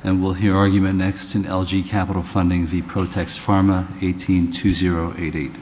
Text Pharma, 18-2088.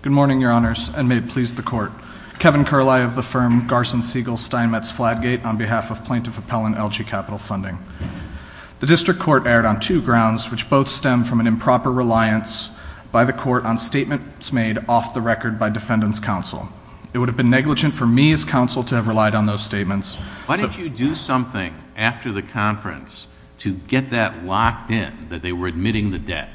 Good morning, Your Honors, and may it please the Court. Kevin Curlie of the firm Garson-Segal-Steinmetz-Flatgate on behalf of Plaintiff Appellant LG Capital Funding. The District Court erred on two grounds, which both stem from an improper reliance by the Court on statements made off the record by Defendant's Counsel. It would have been negligent for me as Counsel to have relied on those statements. Why didn't you do something after the conference to get that locked in, that they were admitting the debt?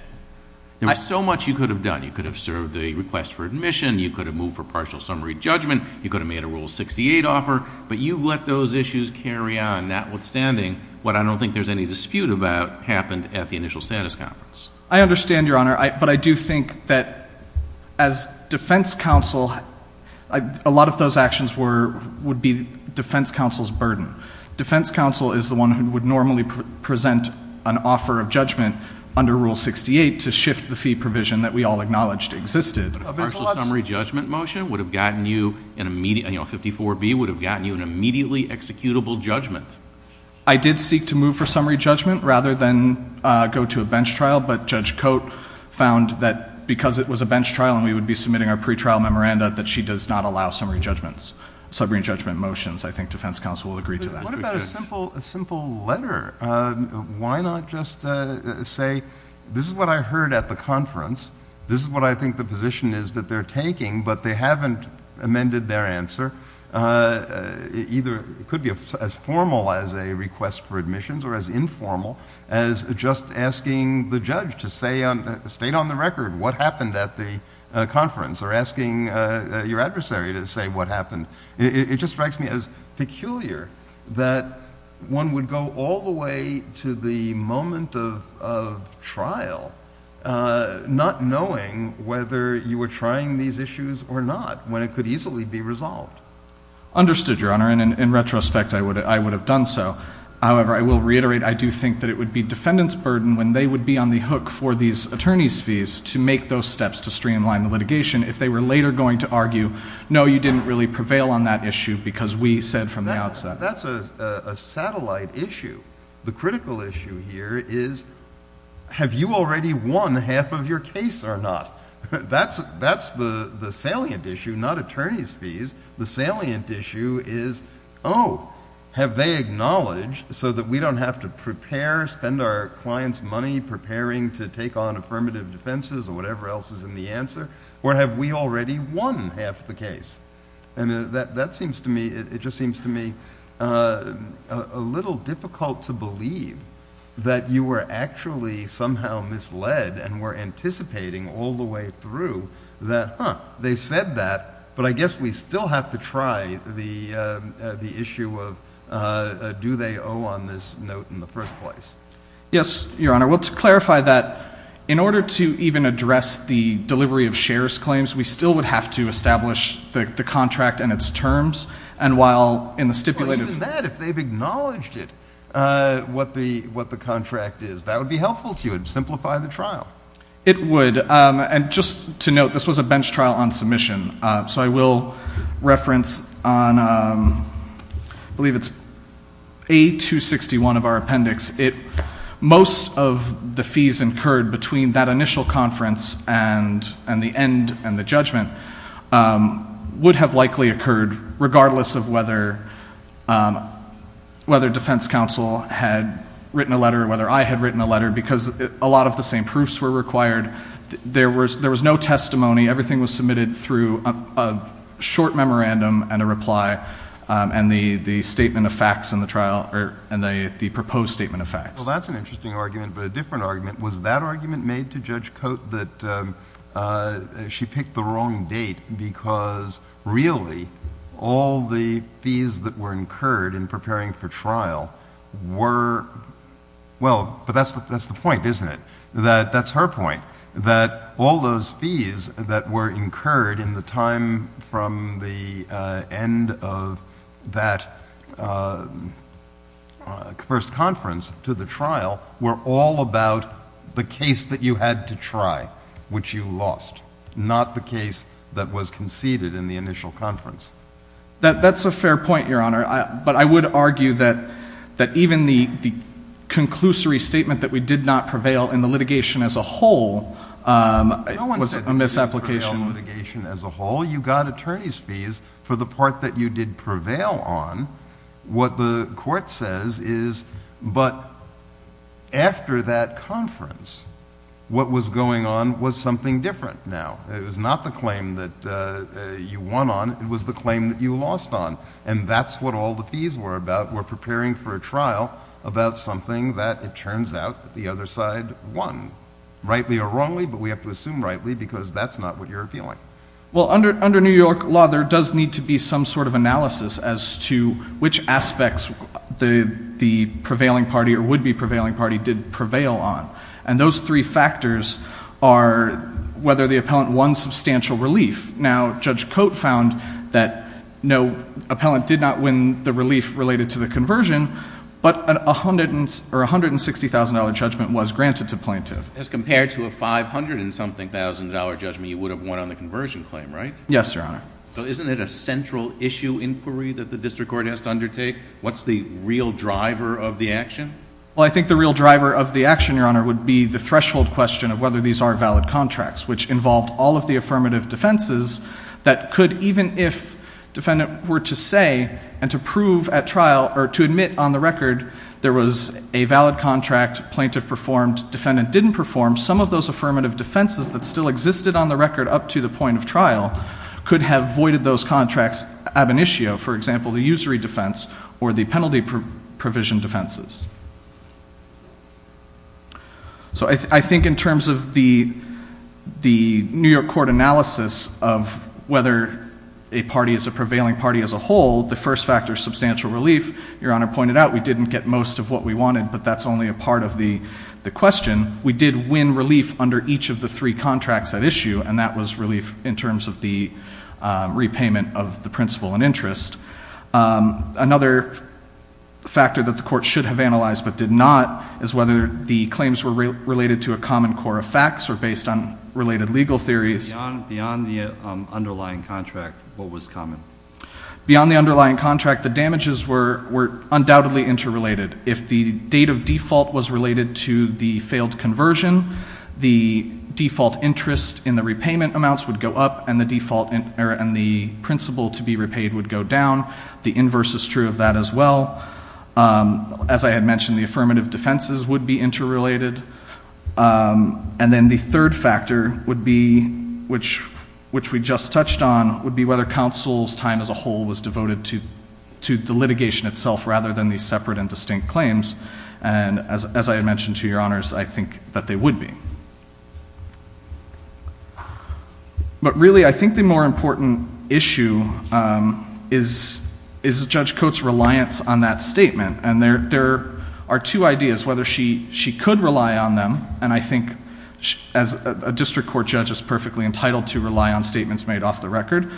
There was so much you could have done. You could have served a request for admission. You could have moved for partial summary judgment. You could have made a Rule 68 offer. But you let those issues carry on, notwithstanding what I don't think there's any dispute about happened at the initial status conference. I understand, Your Honor, but I do think that as Defense Counsel, a lot of those actions would be Defense Counsel's burden. Defense Counsel is the one who would normally present an offer of judgment under Rule 68 to shift the fee provision that we all acknowledged existed. But a partial summary judgment motion, 54B, would have gotten you an immediately executable judgment. I did seek to move for summary judgment rather than go to a bench trial. But Judge Cote found that because it was a bench trial and we would be submitting our pretrial memoranda, that she does not allow summary judgments. Summary judgment motions, I think Defense Counsel will agree to that. What about a simple letter? Why not just say, this is what I heard at the conference. This is what I think the position is that they're taking, but they haven't amended their answer. It could be as formal as a request for admissions or as informal as just asking the judge to state on the record what happened at the conference or asking your adversary to say what happened. It just strikes me as peculiar that one would go all the way to the moment of trial not knowing whether you were trying these issues or not when it could easily be resolved. Understood, Your Honor, and in retrospect, I would have done so. However, I will reiterate I do think that it would be defendant's burden when they would be on the hook for these attorney's fees to make those steps to streamline the litigation. If they were later going to argue, no, you didn't really prevail on that issue because we said from the outset. That's a satellite issue. The critical issue here is, have you already won half of your case or not? That's the salient issue, not attorney's fees. The salient issue is, oh, have they acknowledged so that we don't have to prepare, spend our client's money preparing to take on affirmative defenses or whatever else is in the answer? Or have we already won half the case? And that seems to me, it just seems to me a little difficult to believe that you were actually somehow misled and were anticipating all the way through that, huh, they said that. But I guess we still have to try the issue of do they owe on this note in the first place. Yes, Your Honor. Well, to clarify that, in order to even address the delivery of shares claims, we still would have to establish the contract and its terms. And while in the stipulated. Even that, if they've acknowledged it, what the contract is, that would be helpful to you. It would simplify the trial. It would. And just to note, this was a bench trial on submission. So I will reference on, I believe it's A261 of our appendix. Most of the fees incurred between that initial conference and the end and the judgment would have likely occurred regardless of whether defense counsel had written a letter, whether I had written a letter, because a lot of the same proofs were required. There was no testimony. Everything was submitted through a short memorandum and a reply and the statement of facts in the trial and the proposed statement of facts. Well, that's an interesting argument, but a different argument. Was that argument made to Judge Coate that she picked the wrong date because really all the fees that were incurred in preparing for trial were – Well, but that's the point, isn't it? That's her point, that all those fees that were incurred in the time from the end of that first conference to the trial were all about the case that you had to try, which you lost. Not the case that was conceded in the initial conference. That's a fair point, Your Honor. But I would argue that even the conclusory statement that we did not prevail in the litigation as a whole was a misapplication. No one said you prevailed in litigation as a whole. You got attorney's fees for the part that you did prevail on. What the court says is, but after that conference, what was going on was something different now. It was not the claim that you won on. It was the claim that you lost on, and that's what all the fees were about. We're preparing for a trial about something that it turns out that the other side won. Rightly or wrongly, but we have to assume rightly because that's not what you're appealing. Well, under New York law, there does need to be some sort of analysis as to which aspects the prevailing party or would-be prevailing party did prevail on. And those three factors are whether the appellant won substantial relief. Now, Judge Cote found that no, appellant did not win the relief related to the conversion, but a $160,000 judgment was granted to plaintiff. As compared to a $500,000-something judgment, you would have won on the conversion claim, right? Yes, Your Honor. So isn't it a central issue inquiry that the district court has to undertake? What's the real driver of the action? Well, I think the real driver of the action, Your Honor, would be the threshold question of whether these are valid contracts, which involved all of the affirmative defenses that could, even if defendant were to say and to prove at trial or to admit on the record there was a valid contract plaintiff performed, defendant didn't perform, some of those affirmative defenses that still existed on the record up to the point of trial could have voided those contracts ab initio, for example, the usury defense or the penalty provision defenses. So I think in terms of the New York court analysis of whether a party is a prevailing party as a whole, the first factor is substantial relief. Your Honor pointed out we didn't get most of what we wanted, but that's only a part of the question. We did win relief under each of the three contracts at issue, and that was relief in terms of the repayment of the principal and interest. Another factor that the court should have analyzed but did not is whether the claims were related to a common core of facts or based on related legal theories. Beyond the underlying contract, what was common? Beyond the underlying contract, the damages were undoubtedly interrelated. If the date of default was related to the failed conversion, the default interest in the repayment amounts would go up and the principal to be repaid would go down. The inverse is true of that as well. As I had mentioned, the affirmative defenses would be interrelated. And then the third factor, which we just touched on, would be whether counsel's time as a whole was devoted to the litigation itself rather than these separate and distinct claims. And as I had mentioned to Your Honors, I think that they would be. But really, I think the more important issue is Judge Coates' reliance on that statement. And there are two ideas, whether she could rely on them, and I think as a district court judge is perfectly entitled to rely on statements made off the record.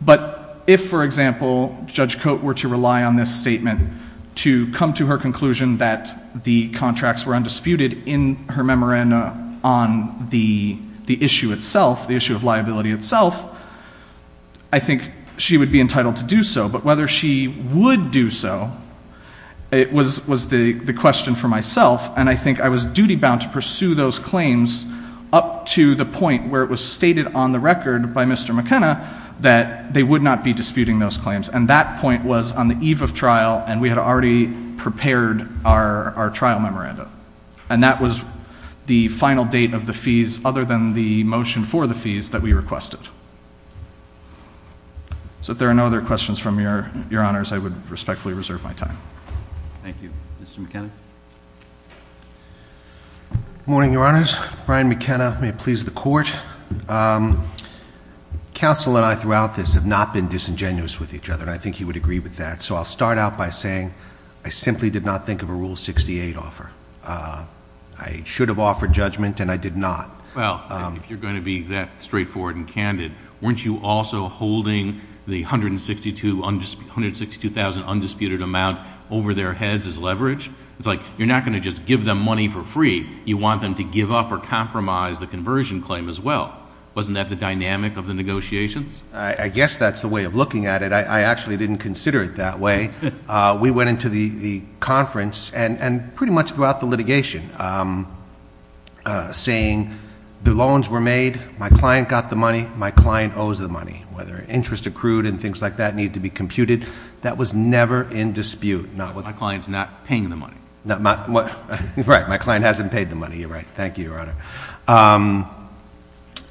But if, for example, Judge Coates were to rely on this statement to come to her conclusion that the contracts were undisputed in her memoranda on the issue itself, the issue of liability itself, I think she would be entitled to do so. But whether she would do so was the question for myself, and I think I was duty-bound to pursue those claims up to the point where it was stated on the record by Mr. McKenna And that point was on the eve of trial, and we had already prepared our trial memoranda. And that was the final date of the fees other than the motion for the fees that we requested. So if there are no other questions from Your Honors, I would respectfully reserve my time. Thank you. Mr. McKenna? Good morning, Your Honors. Brian McKenna. May it please the Court. Counsel and I throughout this have not been disingenuous with each other, and I think he would agree with that. So I'll start out by saying I simply did not think of a Rule 68 offer. I should have offered judgment, and I did not. Well, if you're going to be that straightforward and candid, weren't you also holding the $162,000 undisputed amount over their heads as leverage? It's like you're not going to just give them money for free. You want them to give up or compromise the conversion claim as well. Wasn't that the dynamic of the negotiations? I guess that's the way of looking at it. I actually didn't consider it that way. We went into the conference and pretty much throughout the litigation saying the loans were made, my client got the money, my client owes the money. Whether interest accrued and things like that need to be computed, that was never in dispute. My client's not paying the money. Right, my client hasn't paid the money. You're right. Thank you, Your Honor.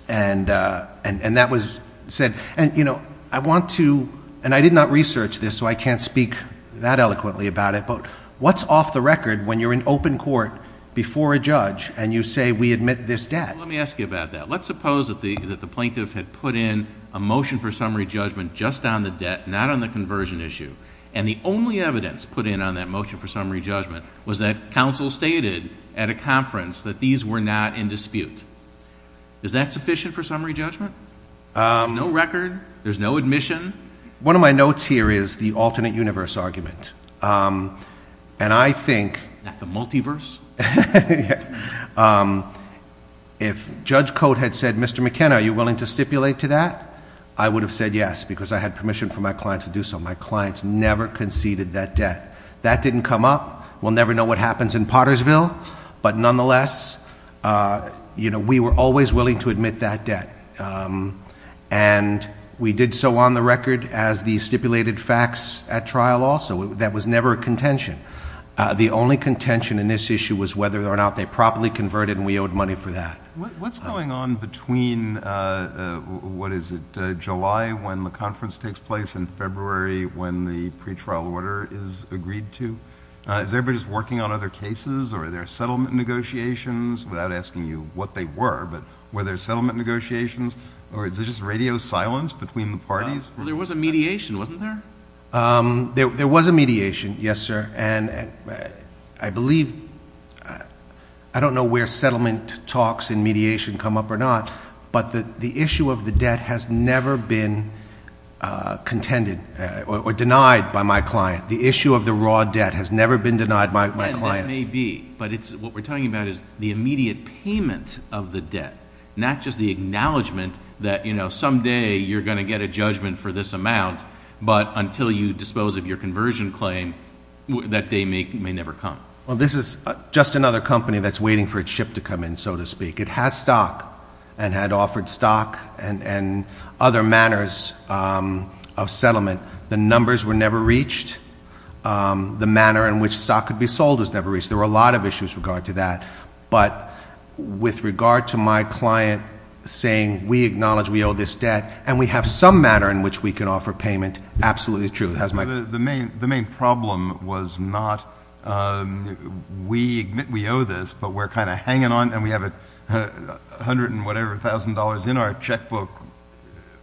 And that was said. And I want to, and I did not research this so I can't speak that eloquently about it, but what's off the record when you're in open court before a judge and you say we admit this debt? Let me ask you about that. Let's suppose that the plaintiff had put in a motion for summary judgment just on the debt, not on the conversion issue, and the only evidence put in on that motion for summary judgment was that counsel stated at a conference that these were not in dispute. Is that sufficient for summary judgment? There's no record. There's no admission. One of my notes here is the alternate universe argument. And I think. Not the multiverse. If Judge Cote had said, Mr. McKenna, are you willing to stipulate to that? I would have said yes because I had permission from my client to do so. My clients never conceded that debt. That didn't come up. We'll never know what happens in Pottersville. But nonetheless, you know, we were always willing to admit that debt. And we did so on the record as the stipulated facts at trial also. That was never a contention. The only contention in this issue was whether or not they properly converted and we owed money for that. What's going on between, what is it, July when the conference takes place and February when the pretrial order is agreed to? Is everybody just working on other cases or are there settlement negotiations, without asking you what they were, but were there settlement negotiations or is there just radio silence between the parties? Well, there was a mediation, wasn't there? There was a mediation, yes, sir. And I believe, I don't know where settlement talks and mediation come up or not, but the issue of the debt has never been contended or denied by my client. The issue of the raw debt has never been denied by my client. And that may be, but what we're talking about is the immediate payment of the debt, not just the acknowledgment that, you know, someday you're going to get a judgment for this amount, but until you dispose of your conversion claim, that day may never come. Well, this is just another company that's waiting for its ship to come in, so to speak. It has stock and had offered stock and other manners of settlement. The numbers were never reached. The manner in which stock could be sold was never reached. There were a lot of issues with regard to that. But with regard to my client saying we acknowledge we owe this debt and we have some manner in which we can offer payment, absolutely true. The main problem was not we owe this, but we're kind of hanging on and we have a hundred and whatever thousand dollars in our checkbook,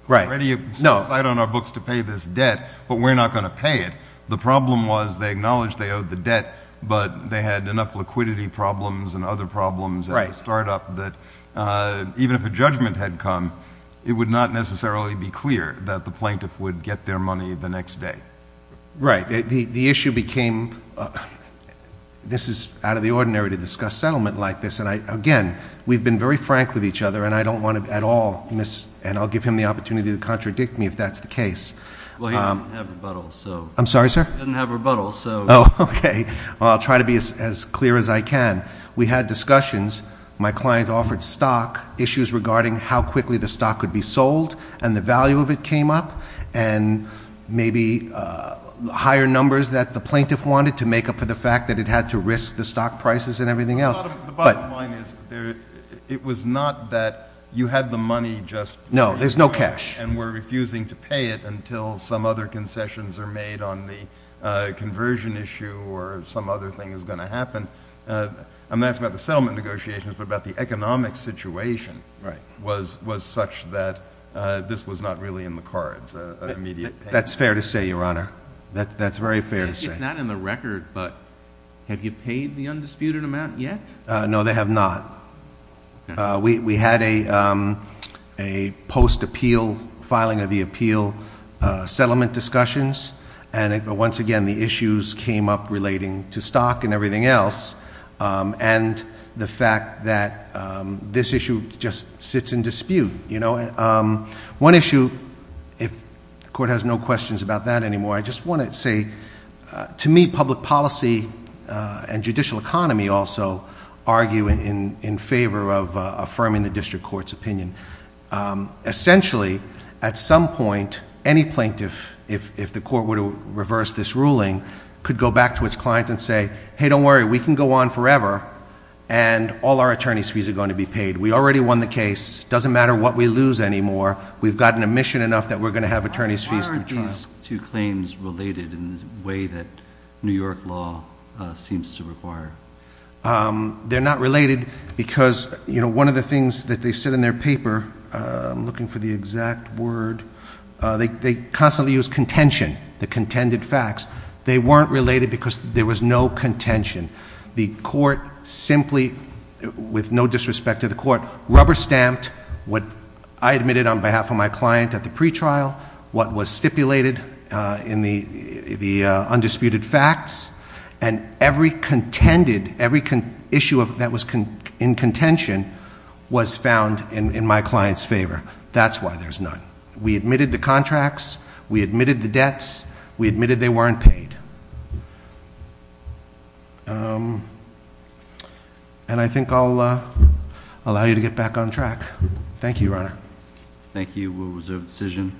ready to decide on our books to pay this debt, but we're not going to pay it. The problem was they acknowledged they owed the debt, but they had enough liquidity problems and other problems at the startup that even if a judgment had come, it would not necessarily be clear that the plaintiff would get their money the next day. Right. The issue became this is out of the ordinary to discuss settlement like this. And, again, we've been very frank with each other, and I don't want to at all miss and I'll give him the opportunity to contradict me if that's the case. Well, he didn't have rebuttals, so. I'm sorry, sir? He didn't have rebuttals, so. Oh, okay. Well, I'll try to be as clear as I can. We had discussions. My client offered stock, issues regarding how quickly the stock could be sold and the value of it came up and maybe higher numbers that the plaintiff wanted to make up for the fact that it had to risk the stock prices and everything else. The bottom line is it was not that you had the money just. No, there's no cash. And we're refusing to pay it until some other concessions are made on the conversion issue or some other thing is going to happen. I'm not asking about the settlement negotiations, but about the economic situation was such that this was not really in the cards, an immediate payment. That's fair to say, Your Honor. That's very fair to say. It's not in the record, but have you paid the undisputed amount yet? No, they have not. We had a post-appeal filing of the appeal settlement discussions, and once again the issues came up relating to stock and everything else and the fact that this issue just sits in dispute. One issue, if the Court has no questions about that anymore, I just want to say, to me, public policy and judicial economy also argue in favor of affirming the district court's opinion. Essentially, at some point, any plaintiff, if the court were to reverse this ruling, could go back to its client and say, hey, don't worry. We can go on forever, and all our attorney's fees are going to be paid. We already won the case. It doesn't matter what we lose anymore. We've gotten admission enough that we're going to have attorney's fees through trial. Are these two claims related in the way that New York law seems to require? They're not related because one of the things that they said in their paper, I'm looking for the exact word, they constantly use contention, the contended facts. They weren't related because there was no contention. The Court simply, with no disrespect to the Court, rubber-stamped what I admitted on behalf of my client at the pretrial, what was stipulated in the undisputed facts, and every contended, every issue that was in contention was found in my client's favor. That's why there's none. We admitted the contracts. We admitted the debts. We admitted they weren't paid. And I think I'll allow you to get back on track. Thank you, Your Honor. Thank you. We'll reserve the decision.